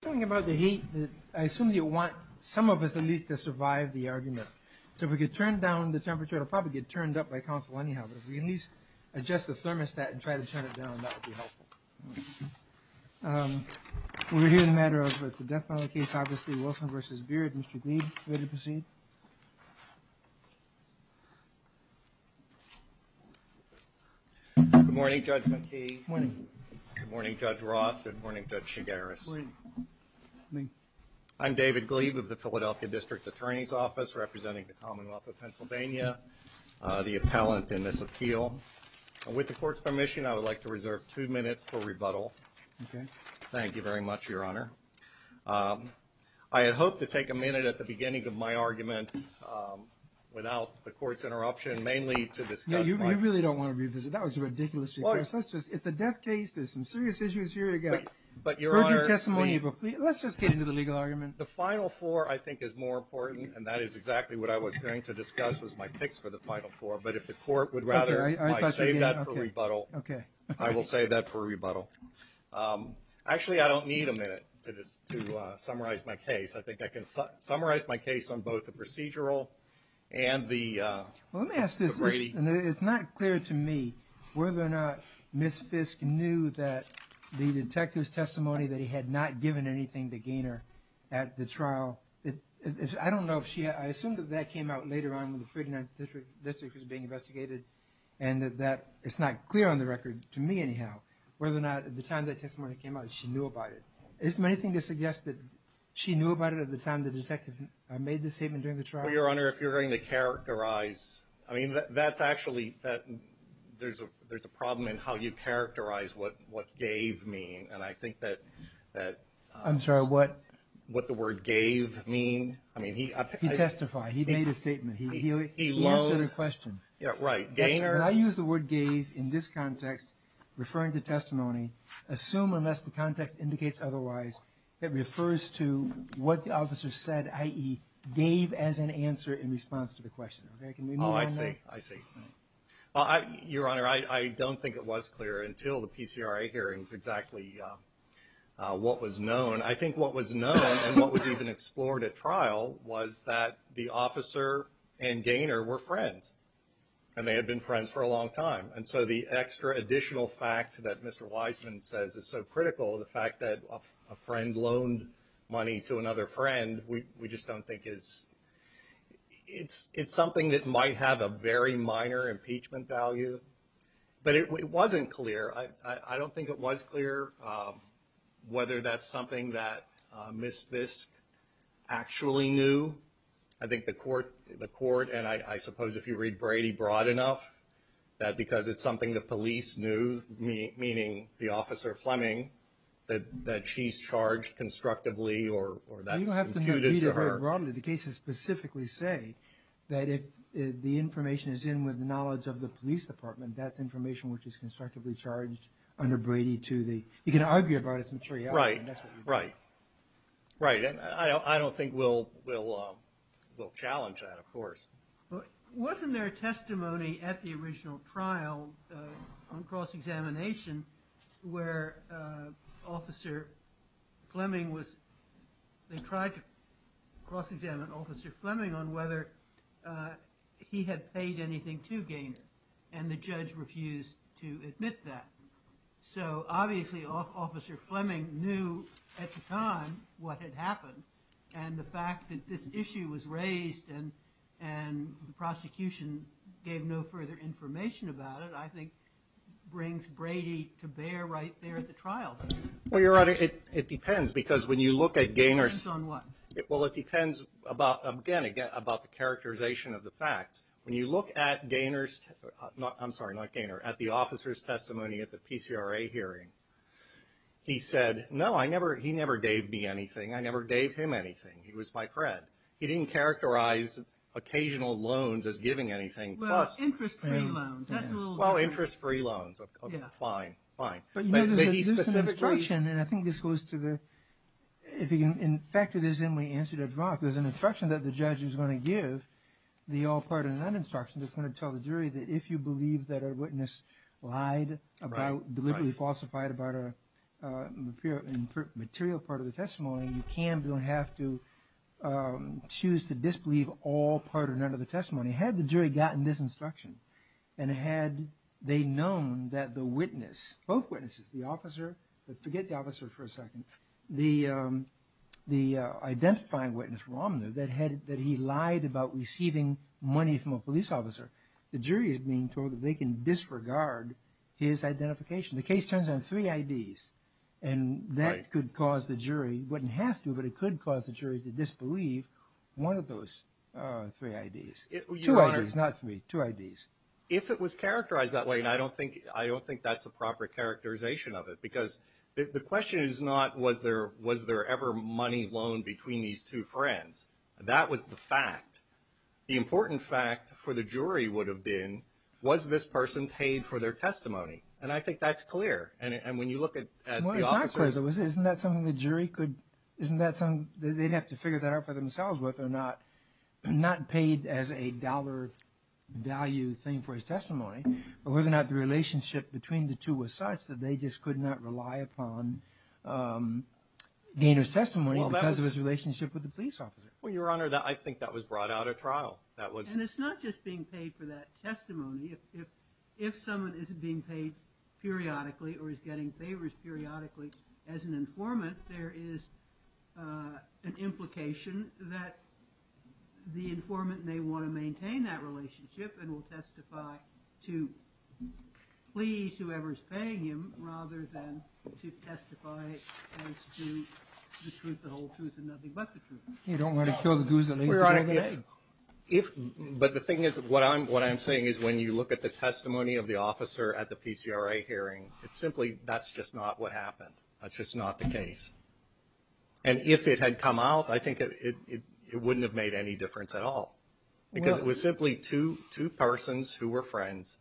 Talking about the heat, I assume you want some of us at least to survive the argument. So if we could turn down the temperature, it'll probably get turned up by council anyhow, but if we can at least adjust the thermostat and try to turn it down, that would be helpful. We're here in the matter of, it's a death penalty case, obviously, Wilson versus Beard. Mr. Glead, ready to proceed? Good morning, Judge McKee. Morning. Good morning, Judge Roth. Good morning, Judge Shigaris. Good morning. I'm David Glead of the Philadelphia District Attorney's Office, representing the Commonwealth of Pennsylvania, the appellant in this appeal. With the court's permission, I would like to reserve two minutes for rebuttal. Okay. Thank you very much, Your Honor. I had hoped to take a minute at the beginning of my argument, without the court's interruption, mainly to discuss my- You really don't want to revisit. That was a ridiculous request. It's a death case. There's some serious issues here you got. But, Your Honor, let's just get into the legal argument. The final four, I think, is more important, and that is exactly what I was going to discuss with my picks for the final four. But if the court would rather I save that for rebuttal, I will save that for rebuttal. Actually, I don't need a minute to summarize my case. I think I can summarize my case on both the procedural and the Brady. Well, let me ask this. It's not clear to me whether or not Ms. Fisk knew that the detective's testimony that he had not given anything to Gaynor at the trial. I don't know if she, I assume that that came out later on when the 39th district was being investigated. And that it's not clear on the record, to me anyhow, whether or not at the time that testimony came out, she knew about it. Is there anything to suggest that she knew about it at the time the detective made the statement during the trial? Well, Your Honor, if you're going to characterize, I mean, that's actually, that, there's a, there's a problem in how you characterize what, what gave mean. And I think that, that. I'm sorry, what? What the word gave mean. I mean, he, I. He testified. He made a statement. He, he, he answered a question. Yeah, right. Gaynor. And I use the word gave in this context, referring to testimony. Assume, unless the context indicates otherwise, that refers to what the officer said, i.e. gave as an answer in response to the question. Okay, can we move on now? I see, I see. Well, I, Your Honor, I, I don't think it was clear until the PCRA hearings exactly what was known. I think what was known and what was even explored at trial was that the officer and Gaynor were friends. And they had been friends for a long time. And so the extra additional fact that Mr. Wiseman says is so critical, the fact that a friend loaned money to another friend, we, we just don't think is, it's, it's something that might have a very minor impeachment value. But it, it wasn't clear. I, I, I don't think it was clear whether that's something that Ms. Visk actually knew. I think the court, the court, and I, I suppose if you read Brady broad enough, that because it's something the police knew, meaning the officer Fleming, that, that she's charged constructively or, or that's imputed to her. You don't have to read it very broadly. The cases specifically say that if the information is in with the knowledge of the police department, that's information which is constructively charged under Brady to the, you can argue about it, it's materiality. Right, right, right. And I, I don't think we'll, we'll, we'll challenge that, of course. Wasn't there testimony at the original trial on cross-examination where Officer Fleming was, they tried to cross-examine Officer Fleming on whether he had paid anything to Gaynor, and the judge refused to admit that. So obviously Officer Fleming knew at the time what had happened, and the fact that this issue was raised, and, and the prosecution gave no further information about it, I think brings Brady to bear right there at the trial. Well, Your Honor, it, it depends, because when you look at Gaynor's. Depends on what? Well, it depends about, again, again, about the characterization of the facts. When you look at Gaynor's, not, I'm sorry, not Gaynor, at the officer's testimony at the PCRA hearing, he said, no, I never, he never gave me anything. I never gave him anything. He was my friend. He didn't characterize occasional loans as giving anything, plus. Well, interest-free loans, that's a little different. Well, interest-free loans, okay, fine, fine. But he specifically. But you know, there's an instruction, and I think this goes to the, if you can, in fact, if there's any way to answer Judge Roth, there's an instruction that the judge is going to give, the all part and none instruction, that's going to tell the jury that if you believe that a witness lied about, deliberately falsified about a material part of the testimony, you can, don't have to choose to disbelieve all part or none of the testimony. Had the jury gotten this instruction, and had they known that the witness, both witnesses, the officer, forget the officer for a second, the identifying witness, Romner, that he lied about receiving money from a police officer, the jury is being told that they can disregard his identification. The case turns on three IDs, and that could cause the jury, wouldn't have to, but it could cause the jury to disbelieve one of those three IDs. Two IDs, not three, two IDs. If it was characterized that way, and I don't think that's a proper characterization of it, because the question is not, was there ever money loaned between these two friends? That was the fact. The important fact for the jury would have been, was this person paid for their testimony? And I think that's clear, and when you look at the officers. Isn't that something the jury could, isn't that something, they'd have to figure that out for themselves, whether or not, not paid as a dollar value thing for his testimony, but whether or not the relationship between the two was such that they just could not rely upon Gaynor's testimony because of his relationship with the police officer. Well, your honor, I think that was brought out of trial. And it's not just being paid for that testimony. If someone is being paid periodically, or is getting favors periodically, as an informant, there is an implication that the informant may want to maintain that relationship and will testify to please whoever is paying him, rather than to testify as to the truth, the whole truth, and nothing but the truth. You don't want to kill the goose that laid the golden egg. But the thing is, what I'm saying is when you look at the testimony of the officer at the PCRA hearing, it's simply, that's just not what happened. That's just not the case. And if it had come out, I think it wouldn't have made any difference at all. Because it was simply two persons who were friends.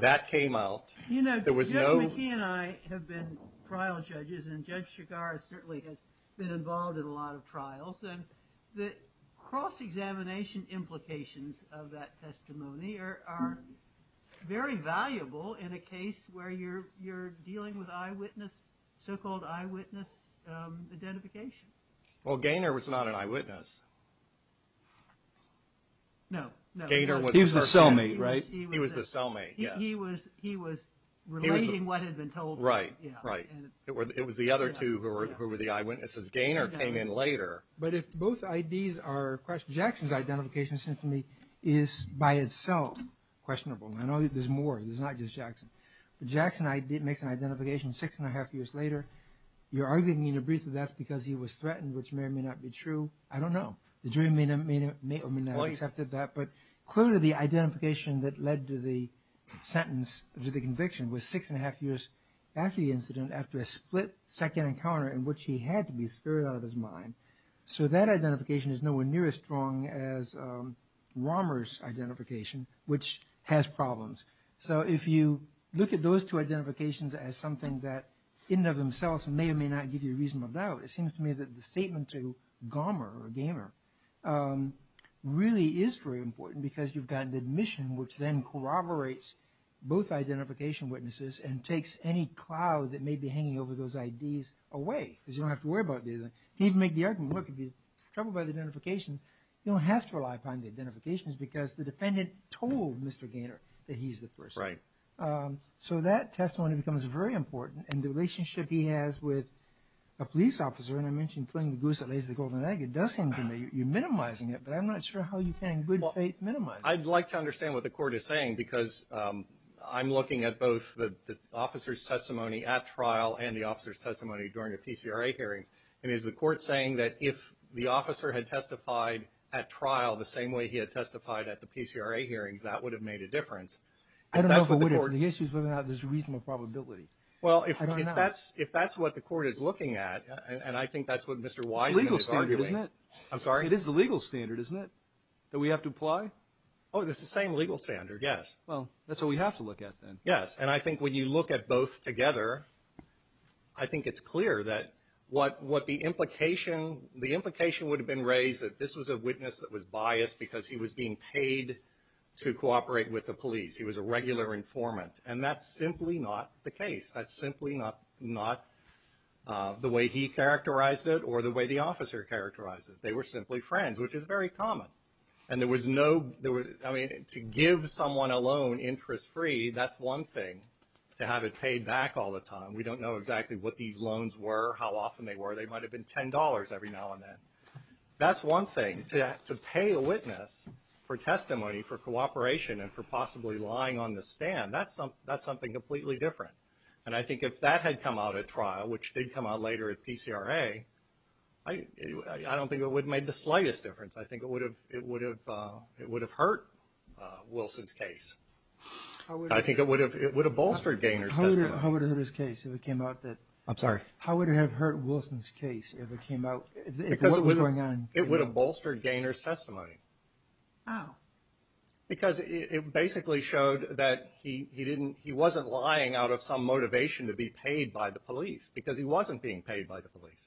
That came out. There was no... You know, Judge McKee and I have been trial judges, and Judge Chigar certainly has been involved in a lot of trials. And the cross-examination implications of that testimony are very valuable in a case where you're dealing with eyewitness, so-called eyewitness identification. Well, Gaynor was not an eyewitness. No, no. He was the cellmate, right? He was the cellmate, yes. He was relating what had been told to him. Right, right. It was the other two who were the eyewitnesses. Gaynor came in later. But if both IDs are... Jackson's identification, it seems to me, is by itself questionable. I know there's more. There's not just Jackson. But Jackson makes an identification six and a half years later. You're arguing in a brief that that's because he was threatened, which may or may not be true. I don't know. The jury may or may not have accepted that. But clearly the identification that led to the conviction was six and a half years after the incident, after a split second encounter in which he had to be scurried out of his mind. So that identification is nowhere near as strong as Romer's identification, which has problems. So if you look at those two identifications as something that in and of themselves may or may not give you a reasonable doubt, it seems to me that the statement to Gomer or Gaynor really is very important because you've got an admission which then corroborates both identification witnesses and takes any cloud that may be hanging over those IDs away. You don't have to rely upon the identifications because the defendant told Mr. Gaynor that he's the person. So that testimony becomes very important. And the relationship he has with a police officer, and I mentioned killing the goose that lays the golden egg, it does seem to me you're minimizing it. But I'm not sure how you can in good faith minimize it. I'd like to understand what the court is saying because I'm looking at both the officer's testimony at trial and the officer's testimony during the PCRA hearings. And is the court saying that if the officer had testified at trial the same way he had testified at the PCRA hearings, that would have made a difference? I don't know if it would have. The issue is whether or not there's a reasonable probability. Well, if that's what the court is looking at, and I think that's what Mr. Wiseman is arguing. It's the legal standard, isn't it? I'm sorry? Oh, it's the same legal standard, yes. Well, that's what we have to look at then. Yes. And I think when you look at both together, I think it's clear that what the implication would have been raised that this was a witness that was biased because he was being paid to cooperate with the police. He was a regular informant. And that's simply not the case. That's simply not the way he characterized it or the way the officer characterized it. They were simply friends, which is very common. I mean, to give someone a loan interest-free, that's one thing. To have it paid back all the time. We don't know exactly what these loans were, how often they were. They might have been $10 every now and then. That's one thing. To pay a witness for testimony, for cooperation, and for possibly lying on the stand, that's something completely different. And I think if that had come out at trial, which did come out later at PCRA, I don't think it would have made the slightest difference. I think it would have hurt Wilson's case. I think it would have bolstered Gaynor's testimony. How would it hurt his case if it came out that... I'm sorry? How would it have hurt Wilson's case if it came out... Because it would have bolstered Gaynor's testimony. How? Because it basically showed that he wasn't lying out of some motivation to be paid by the police, because he wasn't being paid by the police.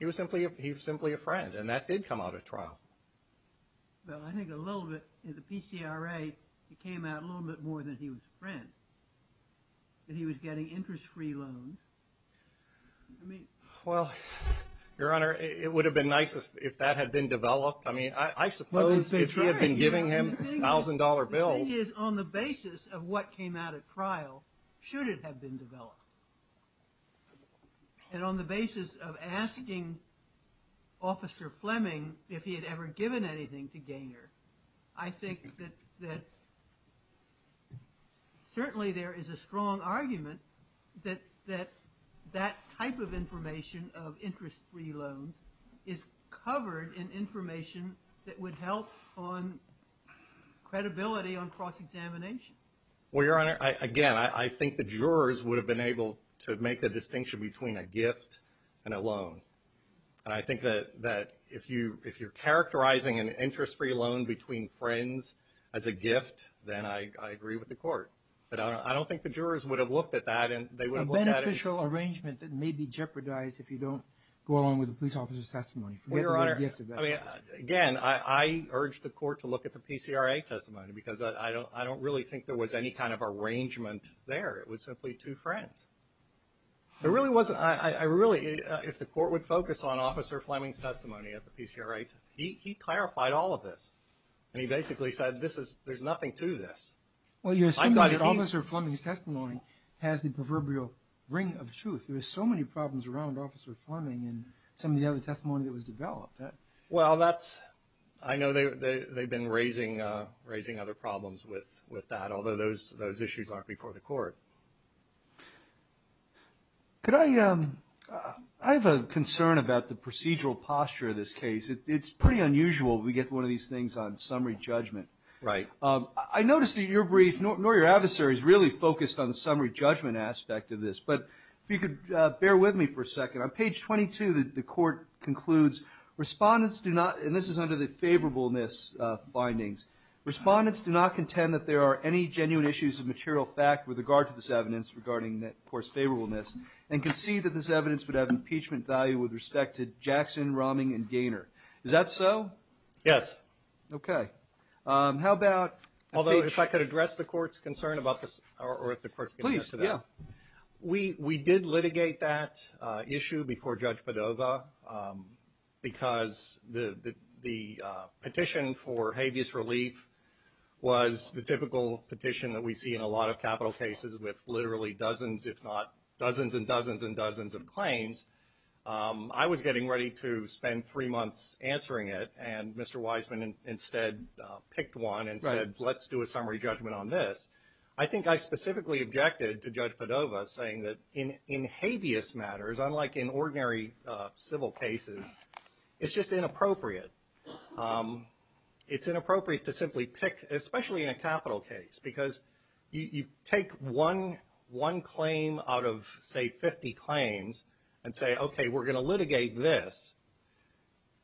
He was simply a friend, and that did come out at trial. Well, I think a little bit, at the PCRA, it came out a little bit more that he was a friend, that he was getting interest-free loans. Well, Your Honor, it would have been nice if that had been developed. I mean, I suppose it would have been giving him $1,000 bills. The thing is, on the basis of what came out at trial, should it have been developed, and on the basis of asking Officer Fleming if he had ever given anything to Gaynor, I think that certainly there is a strong argument that that type of information of interest-free loans is covered in information that would help on credibility on cross-examination. Well, Your Honor, again, I think the jurors would have been able to make the distinction between a gift and a loan. And I think that if you're characterizing an interest-free loan between friends as a gift, then I agree with the court. But I don't think the jurors would have looked at that, and they would have looked at it... A beneficial arrangement that may be jeopardized if you don't go along with the police officer's testimony. Again, I urge the court to look at the PCRA testimony, because I don't really think there was any kind of arrangement there. It was simply two friends. If the court would focus on Officer Fleming's testimony at the PCRA, he clarified all of this, and he basically said, there's nothing to this. Well, you assume that Officer Fleming's testimony has the proverbial ring of truth. There were so many problems around Officer Fleming in some of the other testimony that was developed. Well, that's... I know they've been raising other problems with that, although those issues aren't before the court. Could I... I have a concern about the procedural posture of this case. It's pretty unusual we get one of these things on summary judgment. Right. I noticed that your brief, nor your adversary's, really focused on the summary judgment aspect of this. But if you could bear with me for a second, on page 22, the court concludes, respondents do not... And this is under the favorableness findings. Respondents do not contend that there are any genuine issues of material fact with regard to this evidence regarding the court's favorableness, and concede that this evidence would have impeachment value with respect to Jackson, Romming, and Gaynor. Is that so? Yes. Okay. How about... Although, if I could address the court's concern about this, or if the court's... Please, yeah. We did litigate that issue before Judge Padova, because the petition for habeas relief was the typical petition that we see in a lot of capital cases with literally dozens, if not dozens and dozens and dozens of claims. I was getting ready to spend three months answering it, and Mr. Wiseman instead picked one and said, let's do a summary judgment on this. I think I specifically objected to Judge Padova saying that in habeas matters, unlike in ordinary civil cases, it's just inappropriate. It's inappropriate to simply pick, especially in a capital case, because you take one claim out of, say, 50 claims, and say, okay, we're going to litigate this,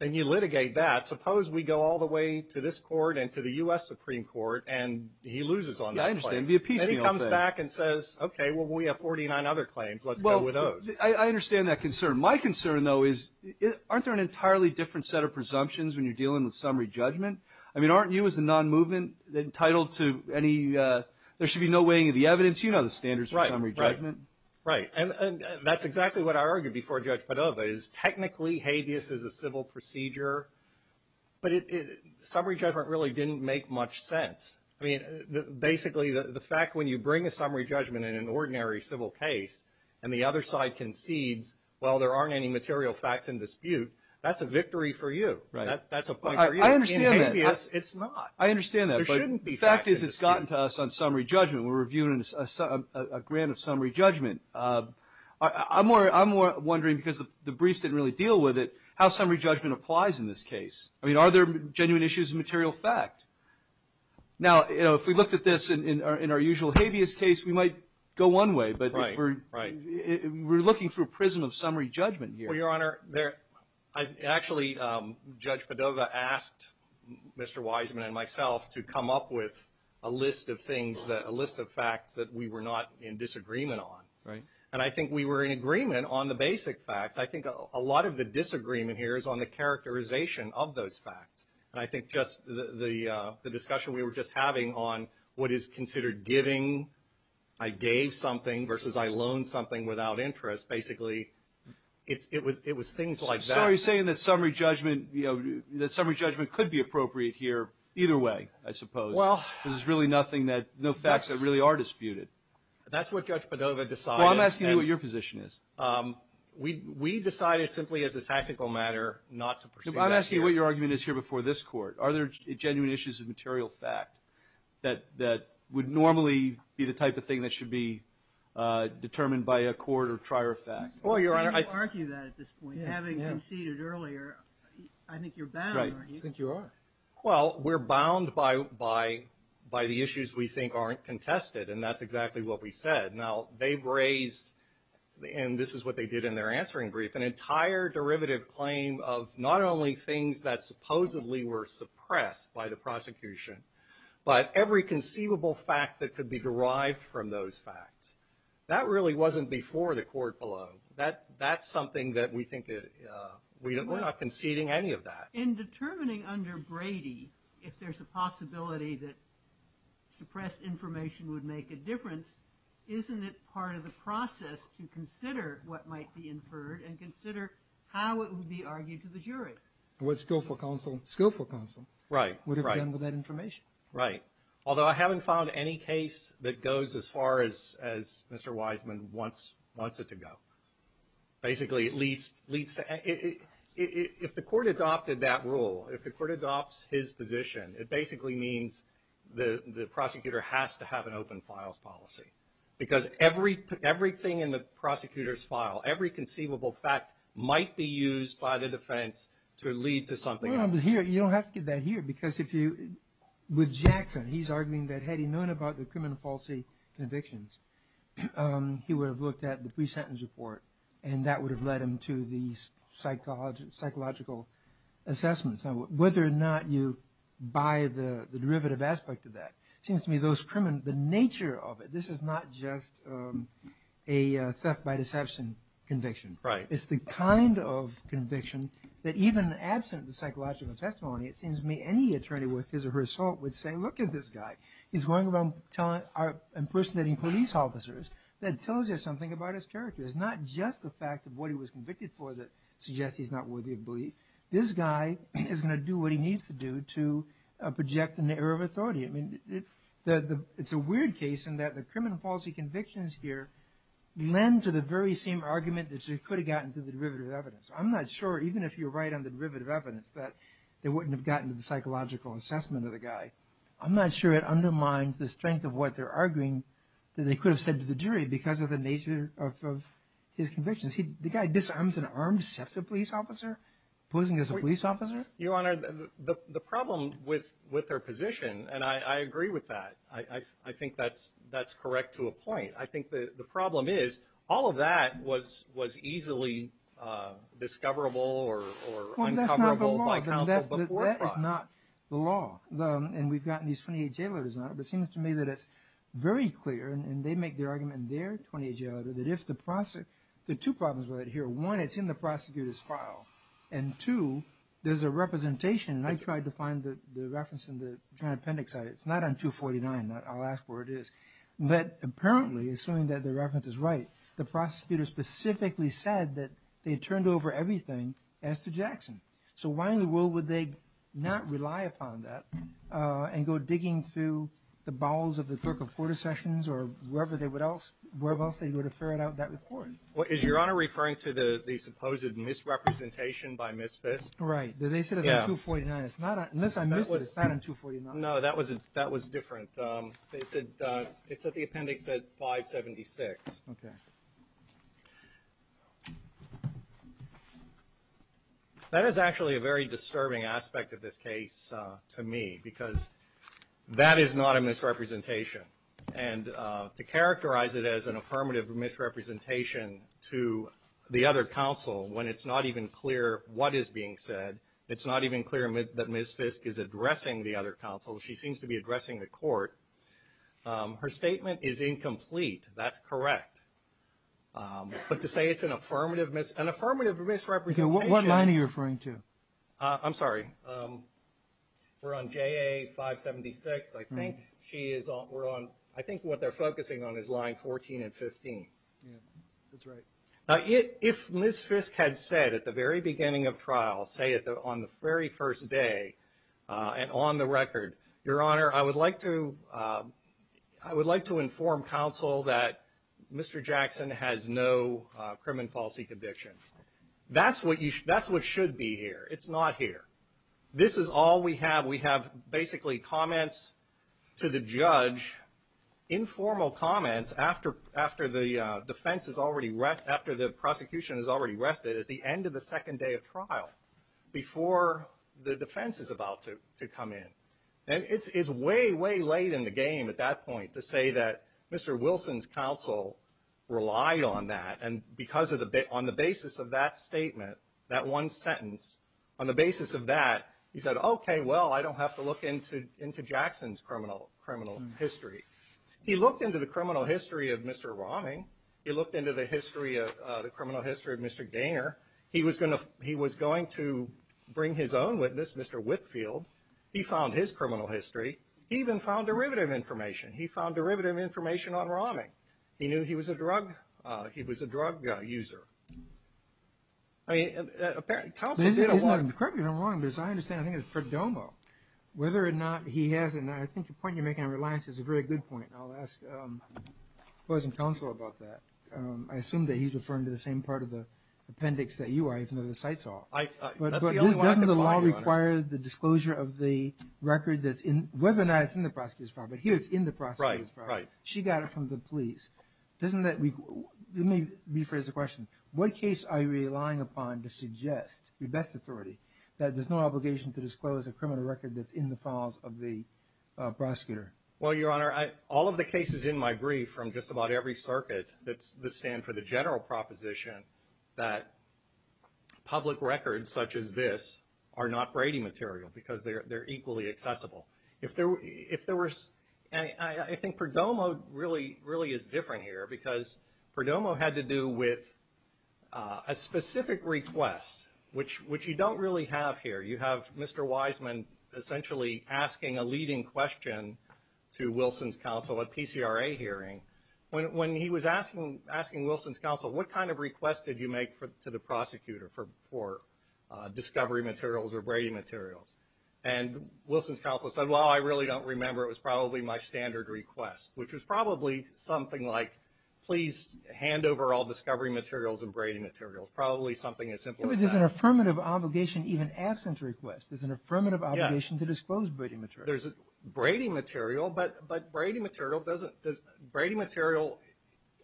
and you litigate that. Suppose we go all the way to this court and to the U.S. Supreme Court, and he loses on that claim. Yeah, I understand. It would be a piecemeal thing. Then he comes back and says, okay, well, we have 49 other claims. Let's go with those. I understand that concern. My concern, though, is aren't there an entirely different set of presumptions when you're dealing with summary judgment? I mean, aren't you as a non-movement entitled to any – there should be no weighing of the evidence. You know the standards for summary judgment. Right. And that's exactly what I argued before Judge Padova, is technically habeas is a civil procedure, but summary judgment really didn't make much sense. I mean, basically the fact when you bring a summary judgment in an ordinary civil case, and the other side concedes, well, there aren't any material facts in dispute, that's a victory for you. Right. That's a point for you. I understand that. In habeas, it's not. I understand that. There shouldn't be facts in dispute. But the fact is it's gotten to us on summary judgment. We're reviewing a grant of summary judgment. I'm wondering, because the briefs didn't really deal with it, how summary judgment applies in this case. I mean, are there genuine issues of material fact? Now, if we looked at this in our usual habeas case, we might go one way. Right. We're looking for a prism of summary judgment here. Well, Your Honor, actually Judge Padova asked Mr. Wiseman and myself to come up with a list of things, a list of facts that we were not in disagreement on. Right. And I think we were in agreement on the basic facts. I think a lot of the disagreement here is on the characterization of those facts. And I think just the discussion we were just having on what is considered giving. I gave something versus I loaned something without interest. Basically, it was things like that. So you're saying that summary judgment could be appropriate here either way, I suppose. Well. Because there's really no facts that really are disputed. That's what Judge Padova decided. Well, I'm asking you what your position is. We decided simply as a tactical matter not to pursue that here. I'm asking you what your argument is here before this court. Are there genuine issues of material fact that would normally be the type of thing that should be determined by a court or trier of fact? Well, Your Honor, I think. How do you argue that at this point? Having conceded earlier, I think you're bound. Right. I think you are. Well, we're bound by the issues we think aren't contested, and that's exactly what we said. Now, they've raised, and this is what they did in their answering brief, an entire derivative claim of not only things that supposedly were suppressed by the prosecution, but every conceivable fact that could be derived from those facts. That really wasn't before the court below. That's something that we think we're not conceding any of that. In determining under Brady if there's a possibility that suppressed information would make a difference, isn't it part of the process to consider what might be inferred and consider how it would be argued to the jury? And what skillful counsel. Skillful counsel. Right. Would have done with that information. Right. Although I haven't found any case that goes as far as Mr. Wiseman wants it to go. Basically, at least, if the court adopted that rule, if the court adopts his position, it basically means the prosecutor has to have an open files policy. Because everything in the prosecutor's file, every conceivable fact, might be used by the defense to lead to something else. You don't have to get that here. Because with Jackson, he's arguing that had he known about the criminal policy convictions, he would have looked at the pre-sentence report, and that would have led him to these psychological assessments. Now, whether or not you buy the derivative aspect of that, it seems to me the nature of it, this is not just a theft by deception conviction. Right. It's the kind of conviction that even absent the psychological testimony, it seems to me any attorney with his or her assault would say, look at this guy. He's going around impersonating police officers. That tells you something about his character. It's not just the fact of what he was convicted for that suggests he's not worthy of belief. This guy is going to do what he needs to do to project an error of authority. I mean, it's a weird case in that the criminal policy convictions here lend to the very same argument that you could have gotten to the derivative evidence. I'm not sure, even if you're right on the derivative evidence, that they wouldn't have gotten to the psychological assessment of the guy. I'm not sure it undermines the strength of what they're arguing that they could have said to the jury because of the nature of his convictions. The guy disarms and arms such a police officer, posing as a police officer? Your Honor, the problem with their position, and I agree with that. I think that's correct to a point. I think the problem is all of that was easily discoverable or uncoverable by counsel before trial. That's not the law, and we've gotten these 28 jailers on it. It seems to me that it's very clear, and they make their argument in their 28 jailer, that there are two problems with it here. One, it's in the prosecutor's file, and two, there's a representation, and I tried to find the reference in the appendix. It's not on 249. I'll ask where it is. But apparently, assuming that the reference is right, the prosecutor specifically said that they turned over everything as to Jackson. So why in the world would they not rely upon that and go digging through the bowels of the clerk of court or wherever else they would have ferried out that report? Is Your Honor referring to the supposed misrepresentation by Ms. Fisk? Right. They said it's on 249. Unless I missed it, it's not on 249. No, that was different. It's at the appendix at 576. Okay. That is actually a very disturbing aspect of this case to me because that is not a misrepresentation. And to characterize it as an affirmative misrepresentation to the other counsel, when it's not even clear what is being said, it's not even clear that Ms. Fisk is addressing the other counsel. She seems to be addressing the court. Her statement is incomplete. That's correct. But to say it's an affirmative misrepresentation. What line are you referring to? I'm sorry. We're on JA 576. I think what they're focusing on is line 14 and 15. That's right. If Ms. Fisk had said at the very beginning of trial, say on the very first day and on the record, Your Honor, I would like to inform counsel that Mr. Jackson has no criminal policy convictions. That's what should be here. It's not here. This is all we have. We have basically comments to the judge, informal comments after the prosecution has already rested at the end of the second day of trial, before the defense is about to come in. And it's way, way late in the game at that point to say that Mr. Wilson's counsel relied on that. And on the basis of that statement, that one sentence, on the basis of that, he said, Okay, well, I don't have to look into Jackson's criminal history. He looked into the criminal history of Mr. Romney. He looked into the criminal history of Mr. Gaynor. He was going to bring his own witness, Mr. Whitfield. He found his criminal history. He even found derivative information. He found derivative information on Romney. He knew he was a drug user. I mean, counsel did a lot. Correct me if I'm wrong, but as I understand it, I think it was Perdomo. Whether or not he has, and I think the point you're making on reliance is a very good point, and I'll ask the counsel about that. I assume that he's referring to the same part of the appendix that you are, even though the site's off. But doesn't the law require the disclosure of the record that's in, whether or not it's in the prosecutor's file, but here it's in the prosecutor's file. Right. She got it from the police. Let me rephrase the question. What case are you relying upon to suggest, with best authority, that there's no obligation to disclose a criminal record that's in the files of the prosecutor? Well, Your Honor, all of the cases in my brief from just about every circuit that stand for the general proposition that public records such as this are not Brady material because they're equally accessible. If there was, and I think Perdomo really is different here because Perdomo had to do with a specific request, which you don't really have here. You have Mr. Wiseman essentially asking a leading question to Wilson's counsel at a PCRA hearing. When he was asking Wilson's counsel, what kind of request did you make to the prosecutor for discovery materials or Brady materials? And Wilson's counsel said, well, I really don't remember. It was probably my standard request, which was probably something like, please hand over all discovery materials and Brady materials, probably something as simple as that. There's an affirmative obligation even absent a request. There's an affirmative obligation to disclose Brady materials. There's Brady material, but Brady material doesn't, Brady material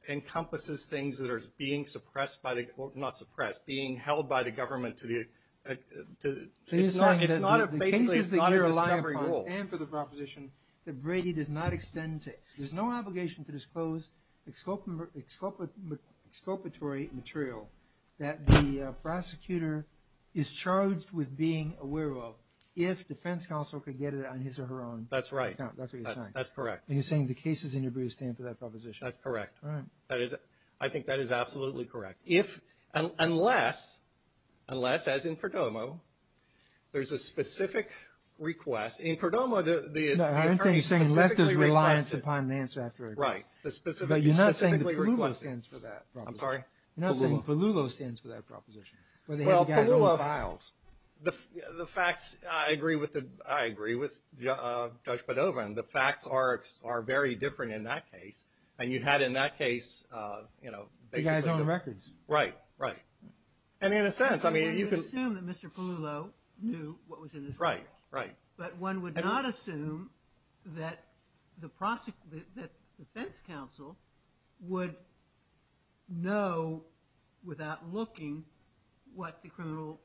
encompasses things that are being suppressed by the, not suppressed, being held by the government to the, it's not a, basically it's not a discovery goal. The cases that you're relying upon stand for the proposition that Brady does not extend to, there's no obligation to disclose exculpatory material that the prosecutor is charged with being aware of if defense counsel could get it on his or her own. That's right. That's what you're saying. That's correct. And you're saying the cases in your brief stand for that proposition. That's correct. All right. I think that is absolutely correct. If, unless, unless, as in Perdomo, there's a specific request. In Perdomo, the attorney specifically requested. No, I didn't think you were saying unless there's reliance upon an answer after a request. Right. But you're not saying that Paloubo stands for that proposition. I'm sorry? You're not saying Paloubo stands for that proposition. Well, Paloubo, the facts, I agree with Judge Padova, and the facts are very different in that case. And you had in that case, you know, basically. He was on the records. Right. Right. And in a sense, I mean, you can. You can assume that Mr. Paloubo knew what was in his brief. Right. Right. But one would not assume that the defense counsel would know without looking what the criminal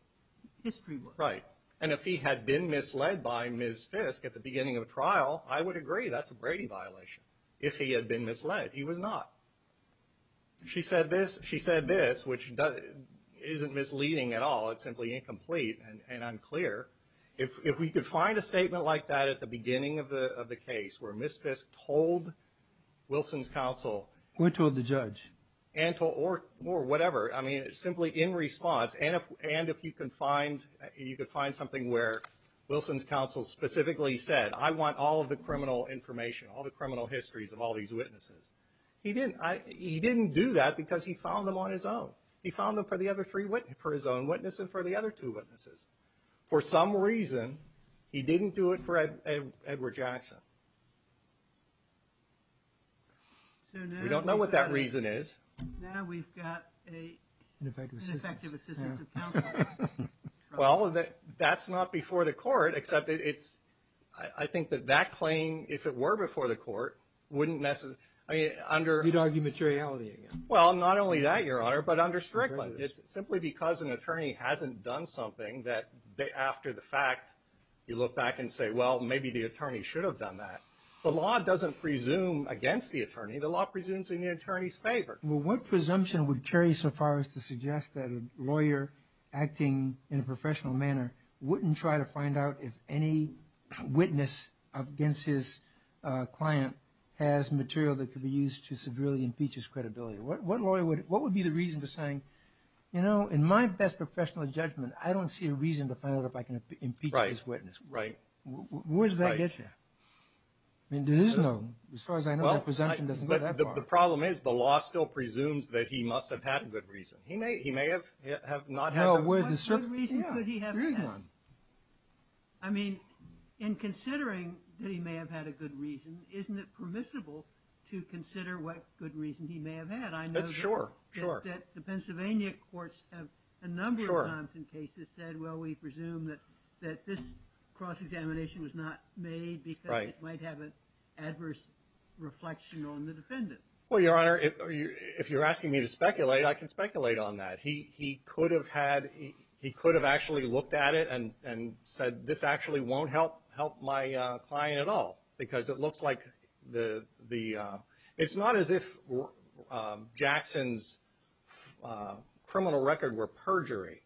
history was. Right. And if he had been misled by Ms. Fisk at the beginning of a trial, I would agree that's a Brady violation. If he had been misled. He was not. She said this. She said this, which isn't misleading at all. It's simply incomplete and unclear. If we could find a statement like that at the beginning of the case where Ms. Fisk told Wilson's counsel. Or told the judge. Or whatever. I mean, simply in response. And if you can find something where Wilson's counsel specifically said, I want all of the criminal information, all the criminal histories of all these witnesses. He didn't do that because he found them on his own. He found them for his own witness and for the other two witnesses. For some reason, he didn't do it for Edward Jackson. We don't know what that reason is. Now we've got an ineffective assistance of counsel. Well, that's not before the court. I think that that claim, if it were before the court, wouldn't necessarily. I mean, under. You'd argue materiality again. Well, not only that, Your Honor, but under Strickland. It's simply because an attorney hasn't done something that after the fact, you look back and say, well, maybe the attorney should have done that. The law doesn't presume against the attorney. The law presumes in the attorney's favor. Well, what presumption would carry so far as to suggest that a lawyer acting in a professional manner wouldn't try to find out if any witness against his client has material that could be used to severely impeach his credibility? What would be the reason for saying, you know, in my best professional judgment, I don't see a reason to find out if I can impeach this witness. Right. Where does that get you? I mean, there is no. As far as I know, the presumption doesn't go that far. The problem is the law still presumes that he must have had a good reason. He may have not had a good reason. What reason could he have had? I mean, in considering that he may have had a good reason, isn't it permissible to consider what good reason he may have had? I know that the Pennsylvania courts have a number of times in cases said, well, we presume that this cross-examination was not made because it might have an adverse reflection on the defendant. Well, Your Honor, if you're asking me to speculate, I can speculate on that. He could have had he could have actually looked at it and said this actually won't help help my client at all because it looks like the the it's not as if Jackson's criminal record were perjury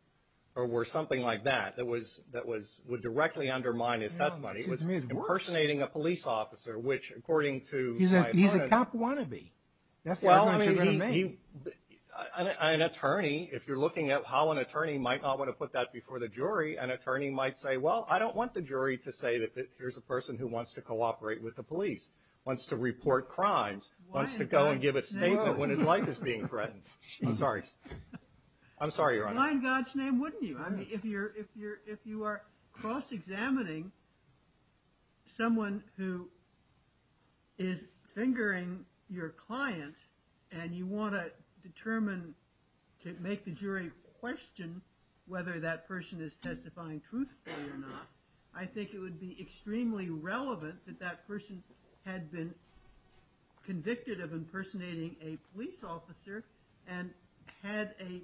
or were something like that. That was that was would directly undermine his testimony. It was impersonating a police officer, which according to he's a he's a cop wannabe. Well, I mean, an attorney, if you're looking at how an attorney might not want to put that before the jury, an attorney might say, well, I don't want the jury to say that. Here's a person who wants to cooperate with the police, wants to report crimes, wants to go and give a statement when his life is being threatened. I'm sorry. I'm sorry. In God's name, wouldn't you? I mean, if you're if you're if you are cross-examining someone who is fingering your client and you want to determine to make the jury question whether that person is testifying truthfully or not. I think it would be extremely relevant that that person had been convicted of impersonating a police officer and had a.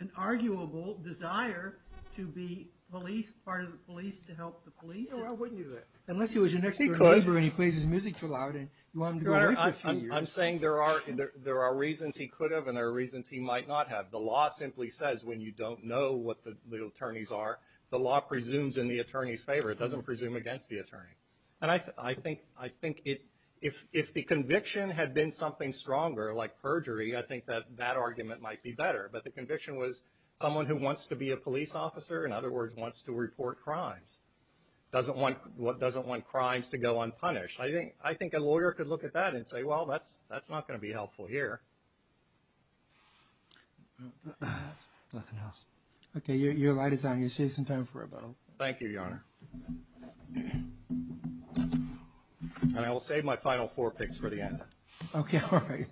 An arguable desire to be police, part of the police to help the police. I wouldn't do that unless he was an expert when he plays his music too loud. And I'm saying there are there are reasons he could have and there are reasons he might not have. The law simply says when you don't know what the attorneys are, the law presumes in the attorney's favor. It doesn't presume against the attorney. And I think I think if if the conviction had been something stronger, like perjury, I think that that argument might be better. But the conviction was someone who wants to be a police officer. In other words, wants to report crimes, doesn't want what doesn't want crimes to go unpunished. I think I think a lawyer could look at that and say, well, that's that's not going to be helpful here. Nothing else. OK, you're right. It's time you say some time for a little. Thank you, Your Honor. And I will save my final four picks for the end. OK, all right.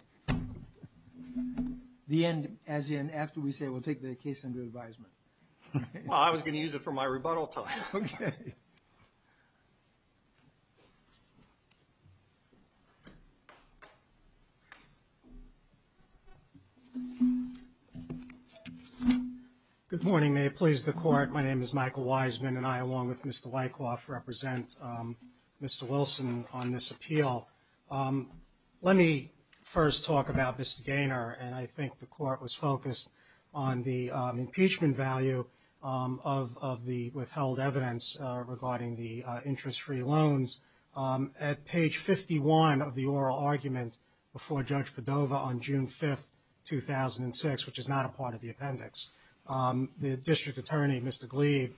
The end. As in after we say we'll take the case under advisement. I was going to use it for my rebuttal. OK. Good morning. May it please the court. My name is Michael Wiseman and I, along with Mr. Wyckoff, represent Mr. Wilson on this appeal. Let me first talk about Mr. Gaynor. And I think the court was focused on the impeachment value of the withheld evidence regarding the interest free loans. At page 51 of the oral argument before Judge Padova on June 5th, 2006, which is not a part of the appendix. The district attorney, Mr. Gleave,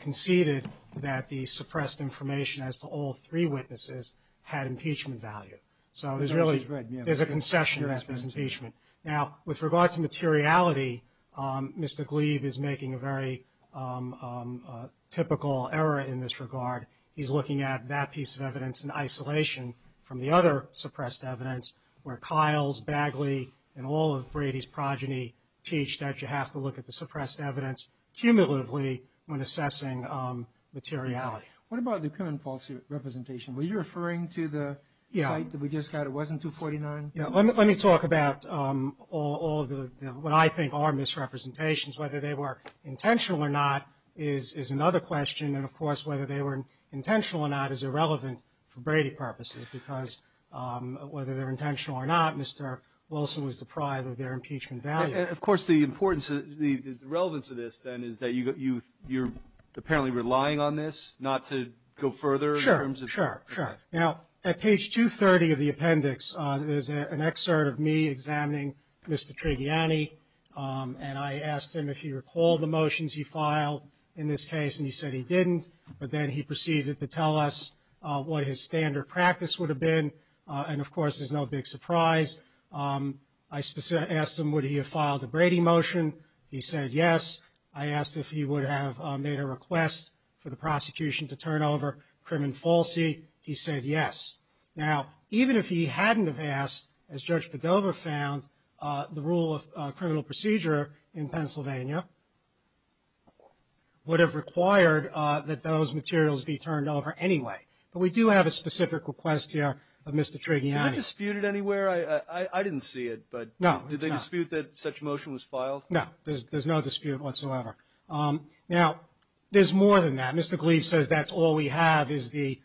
conceded that the suppressed information as to all three witnesses had impeachment value. So there's really, there's a concession to this impeachment. Now, with regard to materiality, Mr. Gleave is making a very typical error in this regard. He's looking at that piece of evidence in isolation from the other suppressed evidence where Kiles, Bagley, and all of Brady's progeny teach that you have to look at the suppressed evidence cumulatively when assessing materiality. What about the common false representation? Were you referring to the site that we just had? It wasn't 249? Yeah. Let me talk about all the, what I think are misrepresentations. Whether they were intentional or not is another question. And, of course, whether they were intentional or not is irrelevant for Brady purposes because whether they're intentional or not, Mr. Wilson was deprived of their impeachment value. And, of course, the importance, the relevance of this, then, is that you're apparently relying on this not to go further in terms of. Sure, sure. Now, at page 230 of the appendix, there's an excerpt of me examining Mr. Trigiani. And I asked him if he recalled the motions he filed in this case, and he said he didn't. But then he proceeded to tell us what his standard practice would have been. And, of course, there's no big surprise. I specifically asked him would he have filed a Brady motion. He said yes. I asked if he would have made a request for the prosecution to turn over crim and falsi. He said yes. Now, even if he hadn't have asked, as Judge Padova found, the rule of criminal procedure in Pennsylvania would have required that those materials be turned over anyway. But we do have a specific request here of Mr. Trigiani. Was that disputed anywhere? I didn't see it. No, it's not. But did they dispute that such a motion was filed? No. There's no dispute whatsoever. Now, there's more than that. Mr. Gleaves says that's all we have is the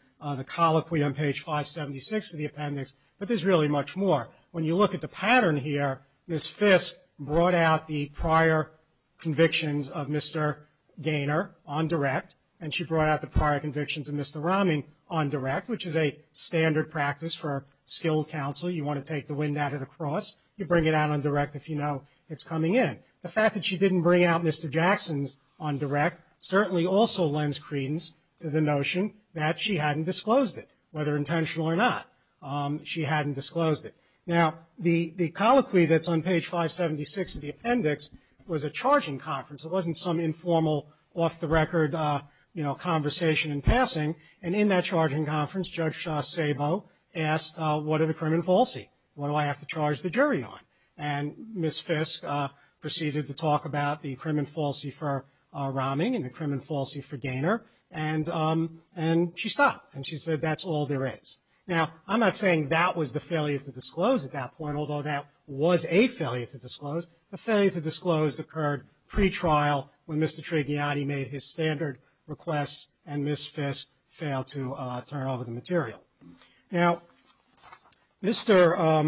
colloquy on page 576 of the appendix. But there's really much more. When you look at the pattern here, Ms. Fisk brought out the prior convictions of Mr. Gaynor on direct, and she brought out the prior convictions of Mr. Romney on direct, which is a standard practice for a skilled counsel. You want to take the wind out of the cross, you bring it out on direct if you know it's coming in. The fact that she didn't bring out Mr. Jackson's on direct certainly also lends credence to the notion that she hadn't disclosed it, whether intentional or not, she hadn't disclosed it. Now, the colloquy that's on page 576 of the appendix was a charging conference. It wasn't some informal off-the-record, you know, conversation in passing. And in that charging conference, Judge Szabo asked, what are the crim and falsi? What do I have to charge the jury on? And Ms. Fisk proceeded to talk about the crim and falsi for Romney and the crim and falsi for Gaynor, and she stopped, and she said, that's all there is. Now, I'm not saying that was the failure to disclose at that point, although that was a failure to disclose. The failure to disclose occurred pretrial when Mr. Trigiani made his standard request, and Ms. Fisk failed to turn over the material. Now, Mr.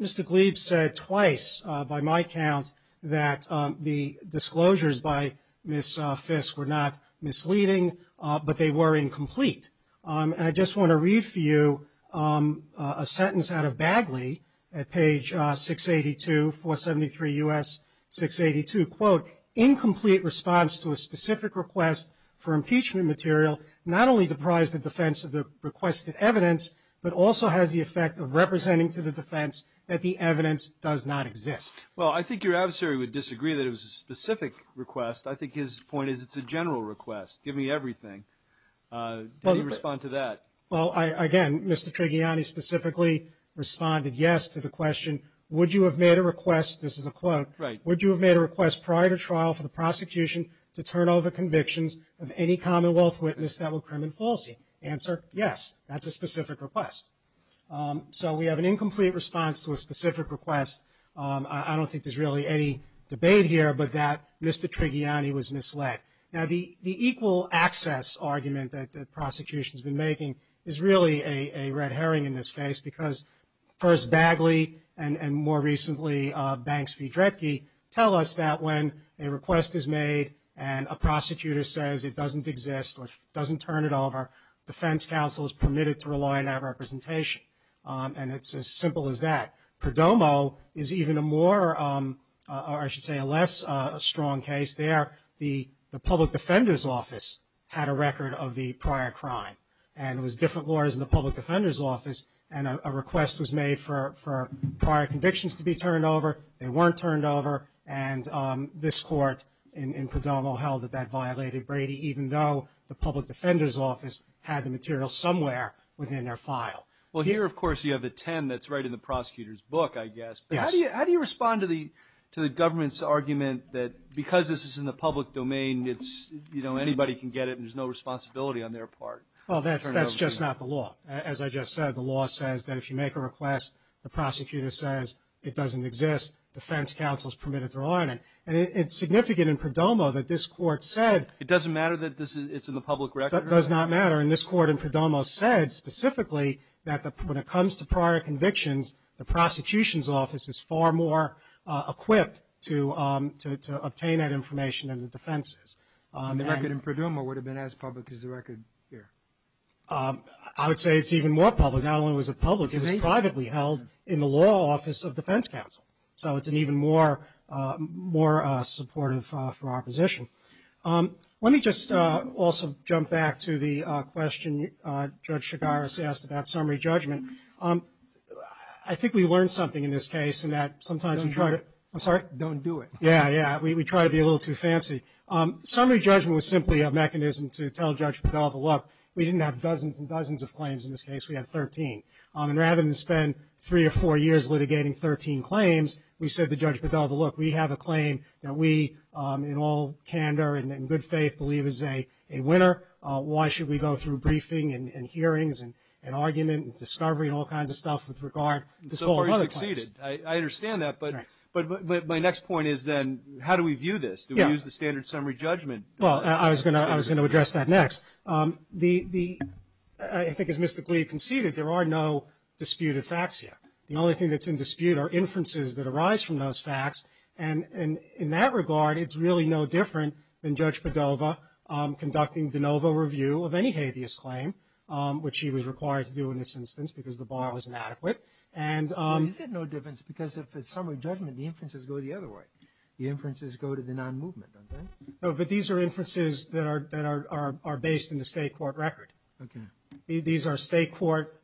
Gleeb said twice by my count that the disclosures by Ms. Fisk were not misleading, but they were incomplete. And I just want to read for you a sentence out of Bagley at page 682, 473 U.S. 682, quote, incomplete response to a specific request for impeachment material not only deprives the defense of the requested evidence, but also has the effect of representing to the defense that the evidence does not exist. Well, I think your adversary would disagree that it was a specific request. I think his point is it's a general request. Give me everything. Did he respond to that? Well, again, Mr. Trigiani specifically responded yes to the question, would you have made a request, this is a quote, would you have made a request prior to trial for the prosecution to turn over convictions of any commonwealth witness that were crim and falsy? Answer, yes. That's a specific request. So we have an incomplete response to a specific request. I don't think there's really any debate here, but that Mr. Trigiani was misled. Now, the equal access argument that the prosecution has been making is really a red herring in this case, because first Bagley and more recently Banks v. Dredge tell us that when a request is made and a prosecutor says it doesn't exist or doesn't turn it over, defense counsel is permitted to rely on that representation. And it's as simple as that. Perdomo is even a more, or I should say a less strong case there. The public defender's office had a record of the prior crime, and it was different lawyers in the public defender's office, and a request was made for prior convictions to be turned over. They weren't turned over, and this court in Perdomo held that that violated Brady, even though the public defender's office had the material somewhere within their file. Well, here, of course, you have a 10 that's right in the prosecutor's book, I guess. But how do you respond to the government's argument that because this is in the public domain, anybody can get it and there's no responsibility on their part? Well, that's just not the law. As I just said, the law says that if you make a request, the prosecutor says it doesn't exist, defense counsel is permitted to rely on it. And it's significant in Perdomo that this court said. It doesn't matter that it's in the public record? It does not matter. And this court in Perdomo said specifically that when it comes to prior convictions, the prosecution's office is far more equipped to obtain that information than the defense is. And the record in Perdomo would have been as public as the record here? I would say it's even more public. Not only was it public, it was privately held in the law office of defense counsel. So it's an even more supportive for our position. Let me just also jump back to the question Judge Chigaris asked about summary judgment. I think we learned something in this case in that sometimes we try to – I'm sorry? Don't do it. Yeah, yeah. We try to be a little too fancy. Summary judgment was simply a mechanism to tell Judge Bedelva, look, we didn't have dozens and dozens of claims in this case, we had 13. And rather than spend three or four years litigating 13 claims, we said to Judge Bedelva, look, we have a claim that we in all candor and in good faith believe is a winner. Why should we go through briefing and hearings and argument and discovery and all kinds of stuff with regard to all the other claims? And so far you've succeeded. I understand that. But my next point is then how do we view this? Do we use the standard summary judgment? Well, I was going to address that next. I think as Mr. Glee conceded, there are no disputed facts yet. The only thing that's in dispute are inferences that arise from those facts. And in that regard, it's really no different than Judge Bedelva conducting de novo review of any habeas claim, which he was required to do in this instance because the bar was inadequate. Well, he said no difference because if it's summary judgment, the inferences go the other way. The inferences go to the non-movement, don't they? No, but these are inferences that are based in the state court record. Okay. These are state court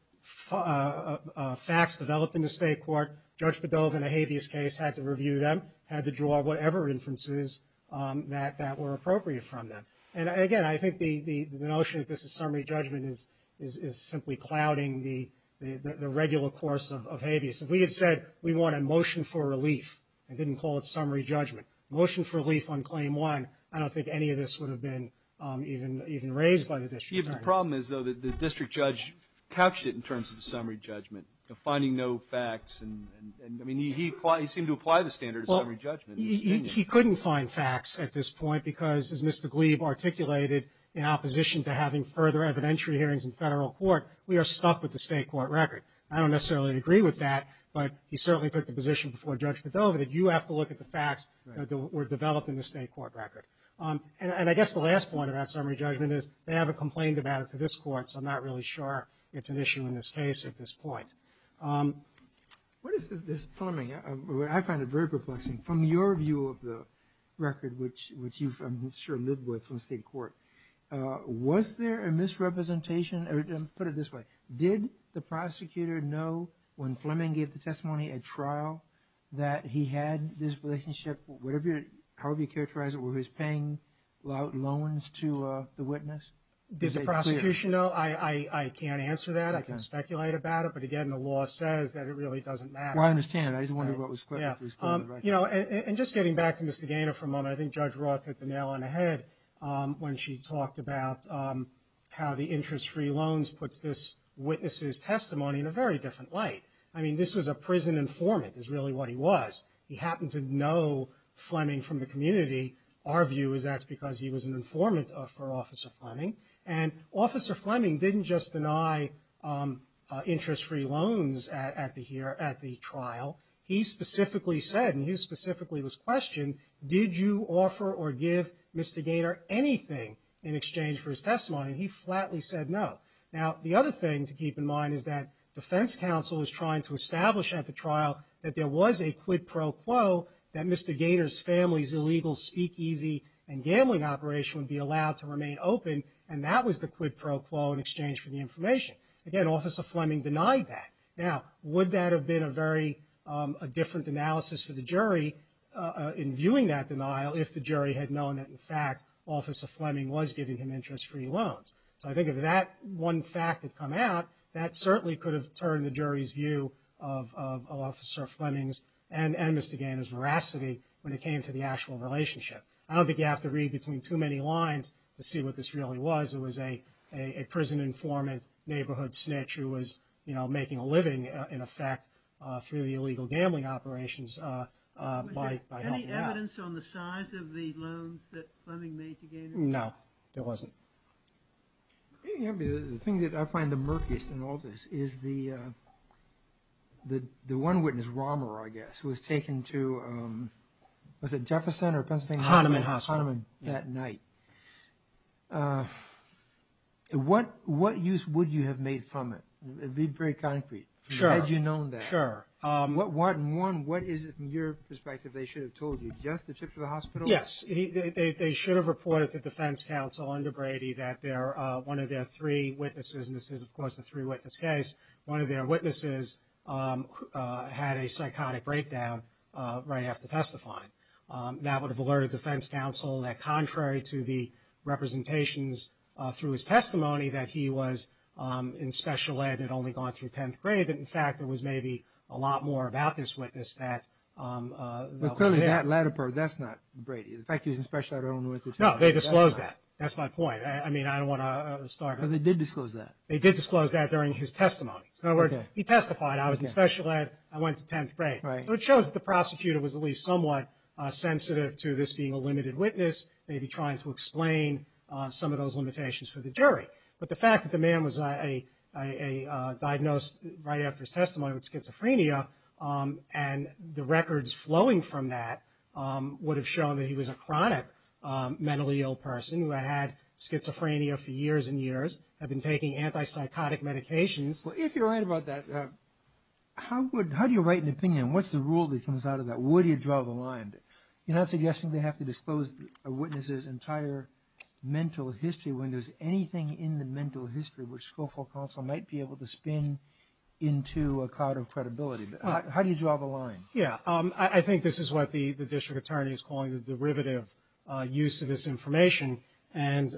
facts developed in the state court. Judge Bedelva in a habeas case had to review them, had to draw whatever inferences that were appropriate from them. And, again, I think the notion that this is summary judgment is simply clouding the regular course of habeas. If we had said we want a motion for relief and didn't call it summary judgment, motion for relief on claim one, I don't think any of this would have been even raised by the district attorney. The problem is, though, that the district judge couched it in terms of the summary judgment, finding no facts. And, I mean, he seemed to apply the standard of summary judgment. He couldn't find facts at this point because, as Mr. Glebe articulated, in opposition to having further evidentiary hearings in federal court, we are stuck with the state court record. I don't necessarily agree with that, but he certainly took the position before Judge Bedelva that you have to look at the facts that were developed in the state court record. And I guess the last point about summary judgment is they haven't complained about it to this court, so I'm not really sure it's an issue in this case at this point. What is this, Fleming, I find it very perplexing. From your view of the record, which you've, I'm sure, lived with from the state court, was there a misrepresentation, or put it this way, did the prosecutor know when Fleming gave the testimony at trial that he had this relationship, however you characterize it, with his paying loans to the witness? Did the prosecution know? I can't answer that. I can speculate about it. But, again, the law says that it really doesn't matter. Well, I understand. I just wondered what was clear. You know, and just getting back to Mr. Gaynor for a moment, I think Judge Roth hit the nail on the head when she talked about how the interest-free loans puts this witness's testimony in a very different light. I mean, this was a prison informant is really what he was. He happened to know Fleming from the community. Our view is that's because he was an informant for Officer Fleming. And Officer Fleming didn't just deny interest-free loans at the trial. He specifically said, and he specifically was questioned, did you offer or give Mr. Gaynor anything in exchange for his testimony? And he flatly said no. Now, the other thing to keep in mind is that defense counsel was trying to establish at the trial that there was a quid pro quo, that Mr. Gaynor's family's illegal speakeasy and gambling operation would be allowed to remain open, and that was the quid pro quo in exchange for the information. Again, Officer Fleming denied that. Now, would that have been a very different analysis for the jury in viewing that denial if the jury had known that, in fact, Officer Fleming was giving him interest-free loans? So I think if that one fact had come out, that certainly could have turned the jury's view of Officer Fleming's and Mr. Gaynor's veracity when it came to the actual relationship. I don't think you have to read between too many lines to see what this really was. It was a prison informant neighborhood snitch who was, you know, making a living, in effect, through the illegal gambling operations by helping out. Was there any evidence on the size of the loans that Fleming made to Gaynor? No, there wasn't. The thing that I find the murkiest in all this is the one witness, Romer, I guess, who was taken to, was it Jefferson or Pennsylvania? Hahnemann Hospital. Hahnemann, that night. What use would you have made from it? Be very concrete. Sure. Had you known that. Sure. One, what is it, from your perspective, they should have told you? Just the trip to the hospital? Yes. They should have reported to defense counsel under Brady that one of their three witnesses, and this is, of course, a three-witness case, one of their witnesses had a psychotic breakdown right after testifying. That would have alerted defense counsel that, contrary to the representations through his testimony that he was in special ed and had only gone through 10th grade, that, in fact, there was maybe a lot more about this witness that was there. But clearly that letter, that's not Brady. In fact, he was in special ed and only went through 10th grade. No, they disclosed that. That's my point. I mean, I don't want to start. Because they did disclose that. They did disclose that during his testimony. In other words, he testified, I was in special ed, I went to 10th grade. Right. So it shows that the prosecutor was at least somewhat sensitive to this being a limited witness, maybe trying to explain some of those limitations for the jury. But the fact that the man was diagnosed right after his testimony with schizophrenia and the records flowing from that would have shown that he was a chronic mentally ill person who had had schizophrenia for years and years, had been taking antipsychotic medications. Well, if you're right about that, how do you write an opinion? What's the rule that comes out of that? Where do you draw the line? You're not suggesting they have to disclose a witness's entire mental history when there's anything in the mental history which Schofield Counsel might be able to spin into a cloud of credibility. How do you draw the line? Yeah, I think this is what the district attorney is calling the derivative use of this information. And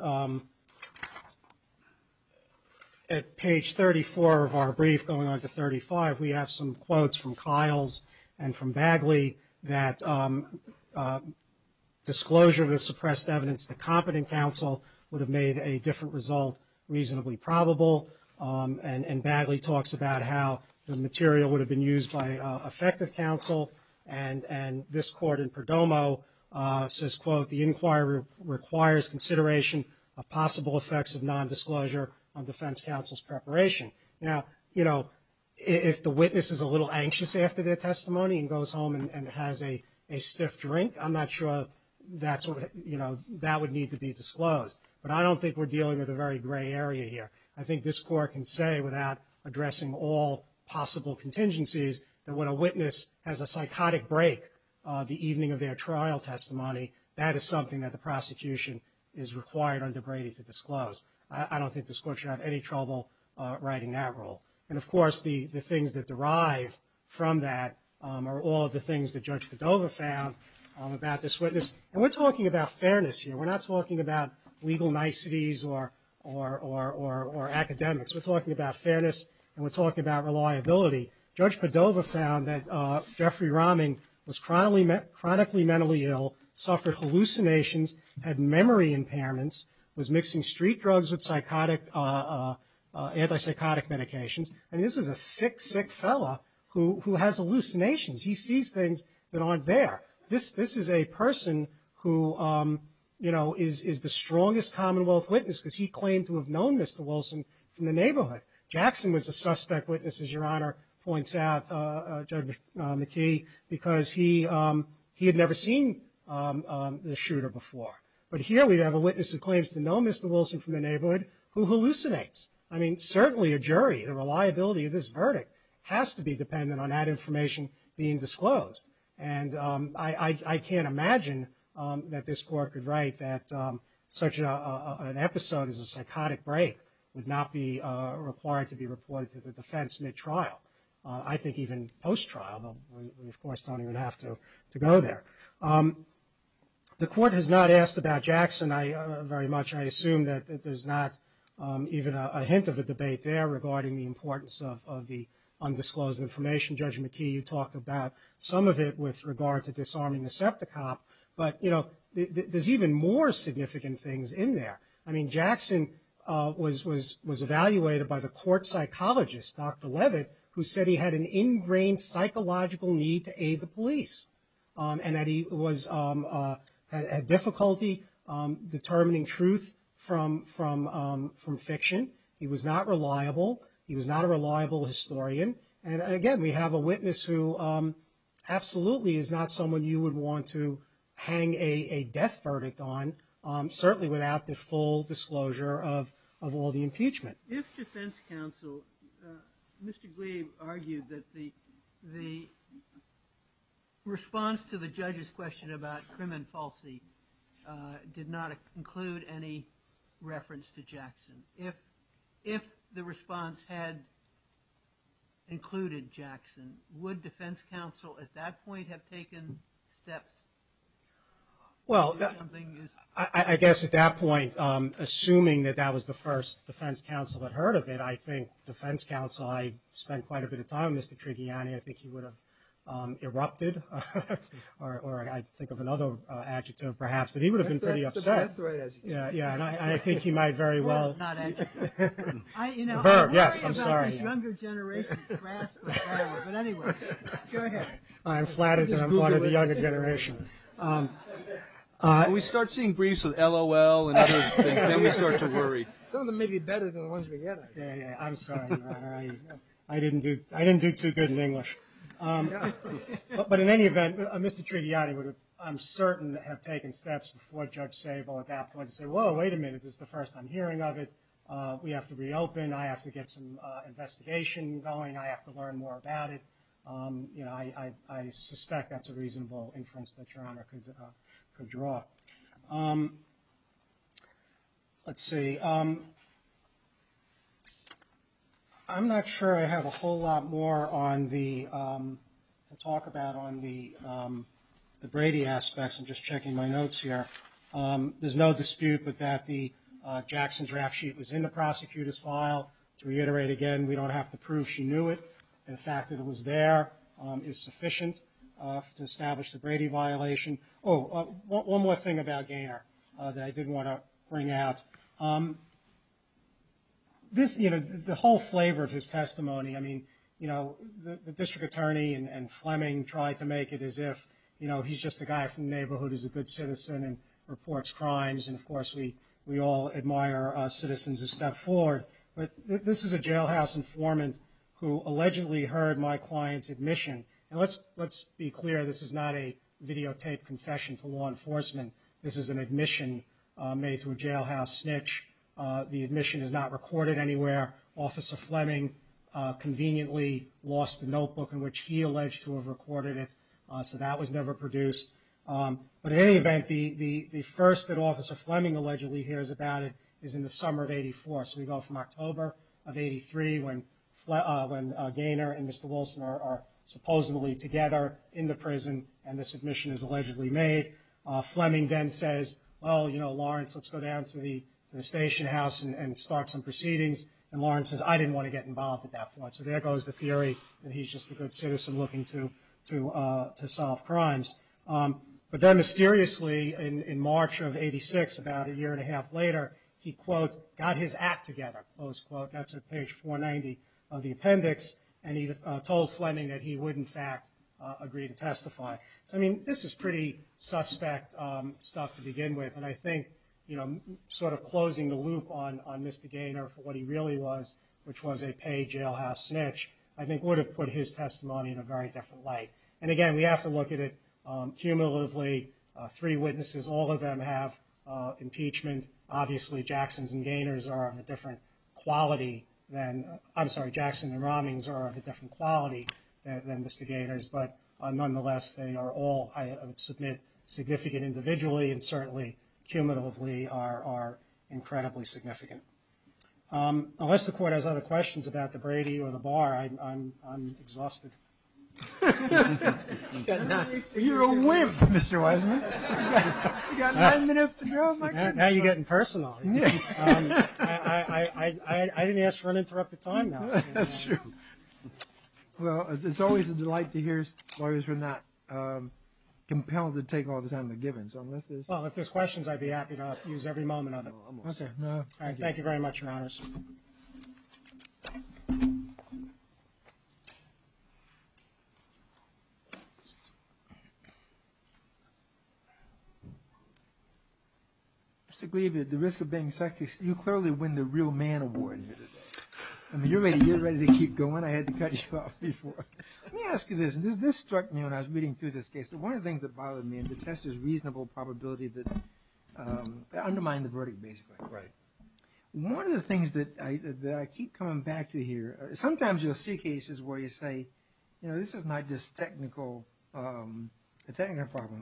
at page 34 of our brief, going on to 35, we have some quotes from Kiles and from Bagley that disclosure of the suppressed evidence to competent counsel would have made a different result reasonably probable. And Bagley talks about how the material would have been used by effective counsel. And this court in Perdomo says, quote, the inquiry requires consideration of possible effects of nondisclosure on defense counsel's preparation. Now, you know, if the witness is a little anxious after their testimony and goes home and has a stiff drink, I'm not sure that's what, you know, that would need to be disclosed. But I don't think we're dealing with a very gray area here. I think this court can say without addressing all possible contingencies that when a witness has a psychotic break the evening of their trial testimony, that is something that the prosecution is required under Brady to disclose. I don't think this court should have any trouble writing that rule. And, of course, the things that derive from that are all of the things that Judge Padova found about this witness. And we're talking about fairness here. We're not talking about legal niceties or academics. We're talking about fairness and we're talking about reliability. Judge Padova found that Jeffrey Rahming was chronically mentally ill, suffered hallucinations, had memory impairments, was mixing street drugs with psychotic, antipsychotic medications. And this was a sick, sick fellow who has hallucinations. He sees things that aren't there. This is a person who, you know, is the strongest Commonwealth witness because he claimed to have known Mr. Wilson from the neighborhood. Jackson was a suspect witness, as Your Honor points out, Judge McKee, because he had never seen the shooter before. But here we have a witness who claims to know Mr. Wilson from the neighborhood who hallucinates. I mean, certainly a jury, the reliability of this verdict has to be dependent on that information being disclosed. And I can't imagine that this court could write that such an episode as a psychotic break would not be required to be reported to the defense in a trial. I think even post-trial. We, of course, don't even have to go there. The court has not asked about Jackson very much. I assume that there's not even a hint of a debate there regarding the importance of the undisclosed information. Judge McKee, you talked about some of it with regard to disarming the septic cop. But, you know, there's even more significant things in there. I mean, Jackson was evaluated by the court psychologist, Dr. Levitt, who said he had an ingrained psychological need to aid the police. And that he was at difficulty determining truth from fiction. He was not reliable. He was not a reliable historian. And, again, we have a witness who absolutely is not someone you would want to hang a death verdict on, certainly without the full disclosure of all the impeachment. If defense counsel, Mr. Gleave, argued that the response to the judge's question about Krim and Falsi did not include any reference to Jackson, if the response had included Jackson, would defense counsel at that point have taken steps? Well, I guess at that point, assuming that that was the first defense counsel had heard of it, I think defense counsel, I spent quite a bit of time with Mr. Trigiani. I think he would have erupted. Or I think of another adjective, perhaps. But he would have been pretty upset. That's the right adjective. Yeah. And I think he might very well. Well, not adjective. Verb, yes. I'm sorry. I'm worried about this younger generation's grasp. But, anyway. Go ahead. I'm flattered that I'm one of the younger generations. We start seeing briefs with LOL and other things. Then we start to worry. Some of them may be better than the ones we get. Yeah, yeah. I'm sorry. I didn't do too good in English. But in any event, Mr. Trigiani would, I'm certain, have taken steps before Judge Sable at that point to say, whoa, wait a minute. This is the first I'm hearing of it. We have to reopen. I have to get some investigation going. I have to learn more about it. I suspect that's a reasonable inference that Your Honor could draw. Let's see. I'm not sure I have a whole lot more to talk about on the Brady aspects. I'm just checking my notes here. There's no dispute that the Jackson draft sheet was in the prosecutor's file. To reiterate again, we don't have to prove she knew it. The fact that it was there is sufficient to establish the Brady violation. Oh, one more thing about Gaynor that I did want to bring out. This, you know, the whole flavor of his testimony, I mean, you know, the district attorney and Fleming tried to make it as if, you know, he's just a guy from the neighborhood who's a good citizen and reports crimes. And, of course, we all admire citizens who step forward. But this is a jailhouse informant who allegedly heard my client's admission. And let's be clear, this is not a videotaped confession to law enforcement. This is an admission made to a jailhouse snitch. The admission is not recorded anywhere. Officer Fleming conveniently lost the notebook in which he alleged to have recorded it. So that was never produced. But in any event, the first that Officer Fleming allegedly hears about it is in the summer of 84. So we go from October of 83 when Gaynor and Mr. Wilson are supposedly together in the prison and the submission is allegedly made. Fleming then says, well, you know, Lawrence, let's go down to the station house and start some proceedings. And Lawrence says, I didn't want to get involved at that point. So there goes the theory that he's just a good citizen looking to solve crimes. But then mysteriously in March of 86, about a year and a half later, he, quote, got his act together, close quote. That's at page 490 of the appendix. And he told Fleming that he would, in fact, agree to testify. So, I mean, this is pretty suspect stuff to begin with. And I think, you know, sort of closing the loop on Mr. Gaynor for what he really was, which was a paid jailhouse snitch, I think would have put his testimony in a very different light. And, again, we have to look at it cumulatively. Three witnesses, all of them have impeachment. Obviously, Jackson and Romney are of a different quality than Mr. Gaynor's. But, nonetheless, they are all, I would submit, significant individually and certainly cumulatively are incredibly significant. Unless the Court has other questions about the Brady or the bar, I'm exhausted. You're a wimp, Mr. Wiseman. You've got nine minutes to go. Now you're getting personal. I didn't ask for an interrupted time now. That's true. Well, it's always a delight to hear lawyers who are not compelled to take all the time they're given. Well, if there's questions, I'd be happy to use every moment of it. Thank you very much, Your Honors. Mr. Glieb, at the risk of being sexist, you clearly win the real man award here today. I mean, you're ready to keep going. I had to cut you off before. Let me ask you this. This struck me when I was reading through this case. One of the things that bothered me in the test is reasonable probability that undermined the verdict, basically. Right. One of the things that I keep coming back to here, sometimes you'll see cases where you say, you know, this is not just a technical problem.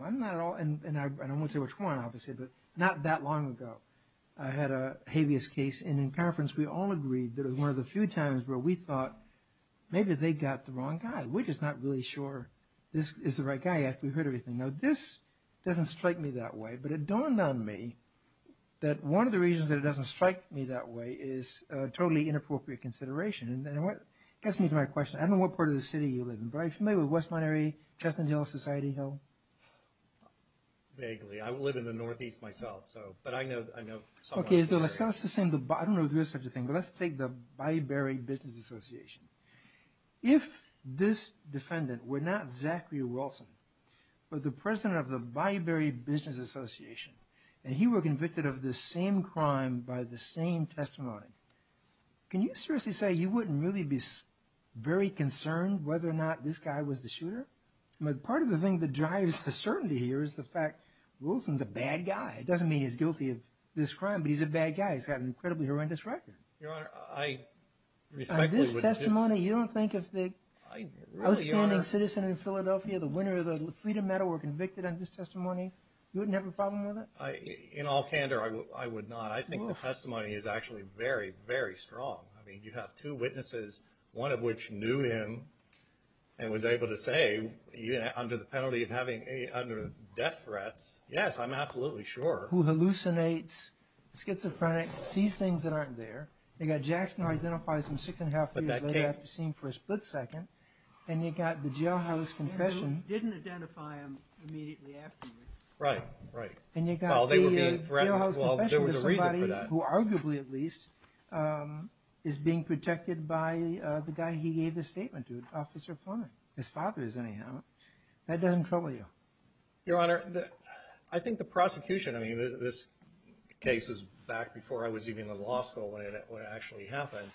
I'm not at all, and I won't say which one, obviously, but not that long ago, I had a habeas case. And in conference, we all agreed that it was one of the few times where we thought, maybe they got the wrong guy. We're just not really sure this is the right guy after we heard everything. Now, this doesn't strike me that way. But it dawned on me that one of the reasons that it doesn't strike me that way is totally inappropriate consideration. And it gets me to my question. I don't know what part of the city you live in. But are you familiar with West Monterey, Chestnut Hill, Society Hill? Vaguely. I live in the northeast myself, so. But I know some parts of the area. Okay. I don't know if there is such a thing. But let's take the Byberry Business Association. If this defendant were not Zachary Wilson, but the president of the Byberry Business Association, and he were convicted of the same crime by the same testimony, can you seriously say you wouldn't really be very concerned whether or not this guy was the shooter? I mean, part of the thing that drives the certainty here is the fact Wilson's a bad guy. It doesn't mean he's guilty of this crime, but he's a bad guy. He's got an incredibly horrendous record. Your Honor, I respectfully would just... On this testimony, you don't think if the outstanding citizen in Philadelphia, the winner of the Freedom Medal, were convicted on this testimony, you wouldn't have a problem with it? In all candor, I would not. I think the testimony is actually very, very strong. I mean, you have two witnesses, one of which knew him and was able to say under the penalty of having death threats, yes, I'm absolutely sure. Who hallucinates, schizophrenic, sees things that aren't there. You've got Jackson who identifies him six and a half years later after seeing him for a split second. And you've got the jailhouse confession. Who didn't identify him immediately afterwards. Right, right. And you've got the jailhouse confession. Well, there was a reason for that. There was somebody who arguably, at least, is being protected by the guy he gave the statement to, Officer Fleming. His father is anyhow. That doesn't trouble you. Your Honor, I think the prosecution, I mean, this case was back before I was even in law school when it actually happened.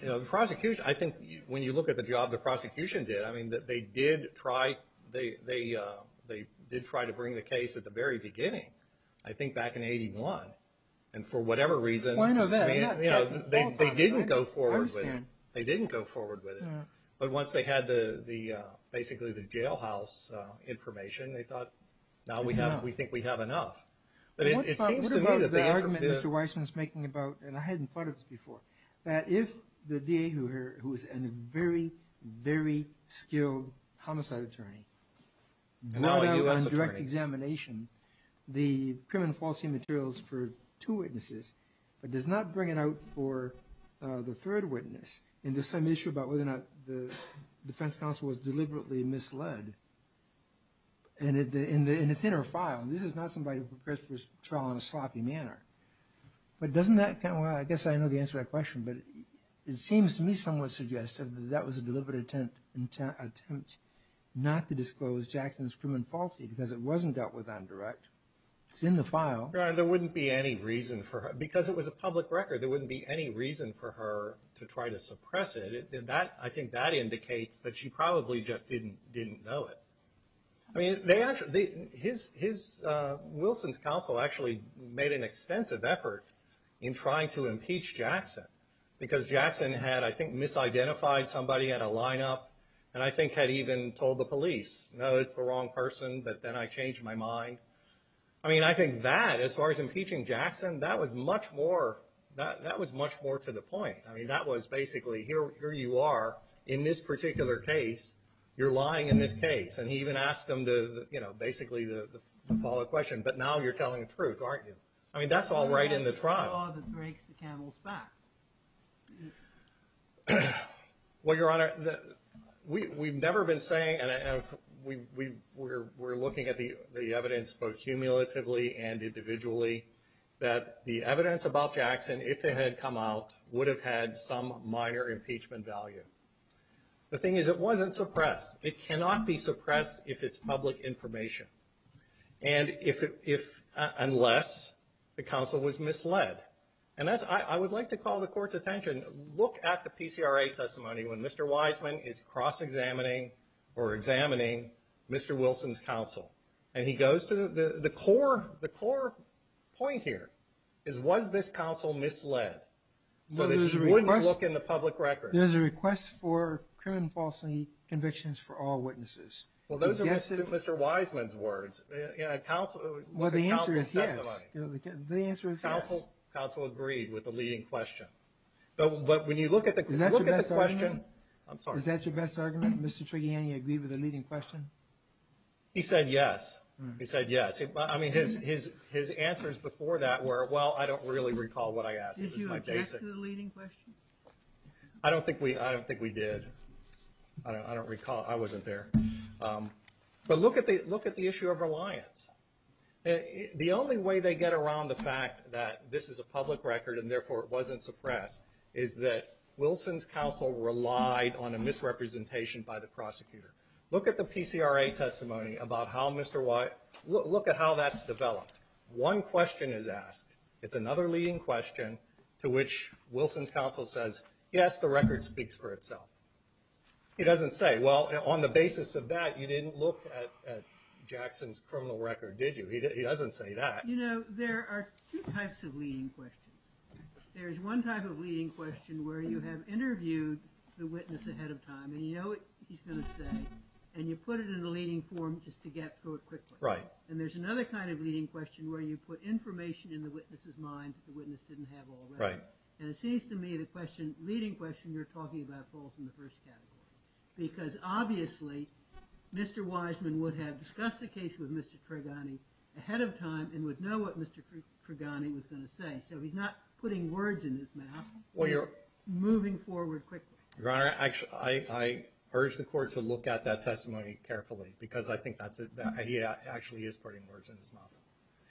You know, the prosecution, I think when you look at the job the prosecution did, I mean, they did try to bring the case at the very beginning. I think back in 81. And for whatever reason, they didn't go forward with it. They didn't go forward with it. But once they had basically the jailhouse information, they thought, now we think we have enough. But it seems to me that they ever did. I was making about, and I hadn't thought of this before, that if the DA who was a very, very skilled homicide attorney brought out on direct examination the criminal fallacy materials for two witnesses, but does not bring it out for the third witness into some issue about whether or not the defense counsel was deliberately misled. And it's in her file. This is not somebody who prepares for a trial in a sloppy manner. But doesn't that kind of, well, I guess I know the answer to that question, but it seems to me somewhat suggestive that that was a deliberate attempt not to disclose Jackson's criminal fallacy because it wasn't dealt with on direct. It's in the file. There wouldn't be any reason for her, because it was a public record. There wouldn't be any reason for her to try to suppress it. I think that indicates that she probably just didn't know it. I mean, Wilson's counsel actually made an extensive effort in trying to impeach Jackson because Jackson had, I think, misidentified somebody at a lineup and I think had even told the police, no, it's the wrong person, but then I changed my mind. I mean, I think that, as far as impeaching Jackson, that was much more to the point. I mean, that was basically, here you are in this particular case. You're lying in this case, and he even asked them to, you know, basically to follow the question. But now you're telling the truth, aren't you? I mean, that's all right in the trial. The law that breaks the camel's back. Well, Your Honor, we've never been saying, and we're looking at the evidence both cumulatively and individually, that the evidence about Jackson, if it had come out, would have had some minor impeachment value. The thing is, it wasn't suppressed. It cannot be suppressed if it's public information, unless the counsel was misled. And I would like to call the Court's attention, look at the PCRA testimony when Mr. Wiseman is cross-examining or examining Mr. Wilson's counsel. And he goes to the core point here is was this counsel misled so that he wouldn't look in the public record? There's a request for criminal falsely convictions for all witnesses. Well, those are Mr. Wiseman's words. Well, the answer is yes. The answer is yes. Counsel agreed with the leading question. But when you look at the question — Is that your best argument? I'm sorry. Is that your best argument, Mr. Trigiani, agreed with the leading question? He said yes. He said yes. I mean, his answers before that were, well, I don't really recall what I asked. Did you object to the leading question? I don't think we did. I don't recall. I wasn't there. But look at the issue of reliance. The only way they get around the fact that this is a public record and, therefore, it wasn't suppressed, is that Wilson's counsel relied on a misrepresentation by the prosecutor. Look at the PCRA testimony about how Mr. Wiseman — look at how that's developed. One question is asked. It's another leading question to which Wilson's counsel says, yes, the record speaks for itself. He doesn't say, well, on the basis of that, you didn't look at Jackson's criminal record, did you? He doesn't say that. You know, there are two types of leading questions. There's one type of leading question where you have interviewed the witness ahead of time, and you know what he's going to say, and you put it in the leading form just to get to it quickly. Right. And there's another kind of leading question where you put information in the witness's mind that the witness didn't have already. Right. And it seems to me the leading question you're talking about falls in the first category because, obviously, Mr. Wiseman would have discussed the case with Mr. Tregani ahead of time and would know what Mr. Tregani was going to say. So he's not putting words in his mouth. He's moving forward quickly. Your Honor, I urge the Court to look at that testimony carefully because I think that's a — he actually is putting words in his mouth.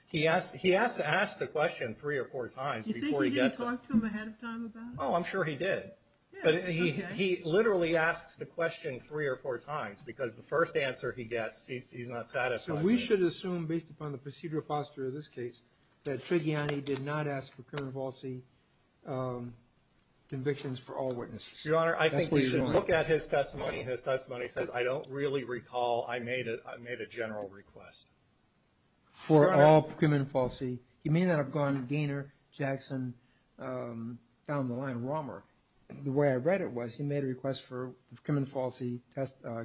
He has to ask the question three or four times before he gets it. You think he didn't talk to him ahead of time about it? Oh, I'm sure he did. Yeah, okay. But he literally asks the question three or four times because the first answer he gets, he's not satisfied. So we should assume, based upon the procedural posture of this case, that Tregani did not ask for criminal policy convictions for all witnesses. Your Honor, I think we should look at his testimony. His testimony says, I don't really recall I made a general request. Your Honor. For all criminal policy. He may not have gone Gaynor, Jackson, down the line, Romer. The way I read it was he made a request for criminal policy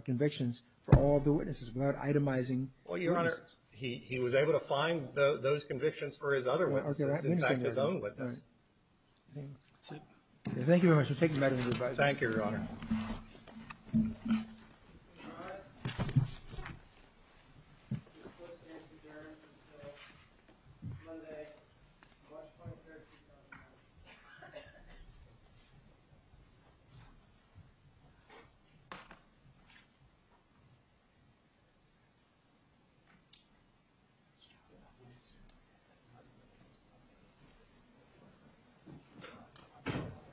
convictions for all of the witnesses without itemizing the witnesses. Well, Your Honor, he was able to find those convictions for his other witnesses, in fact, his own witnesses. That's it. Thank you very much. I'll take them back to the advisor. Thank you, Your Honor. Thank you, Your Honor.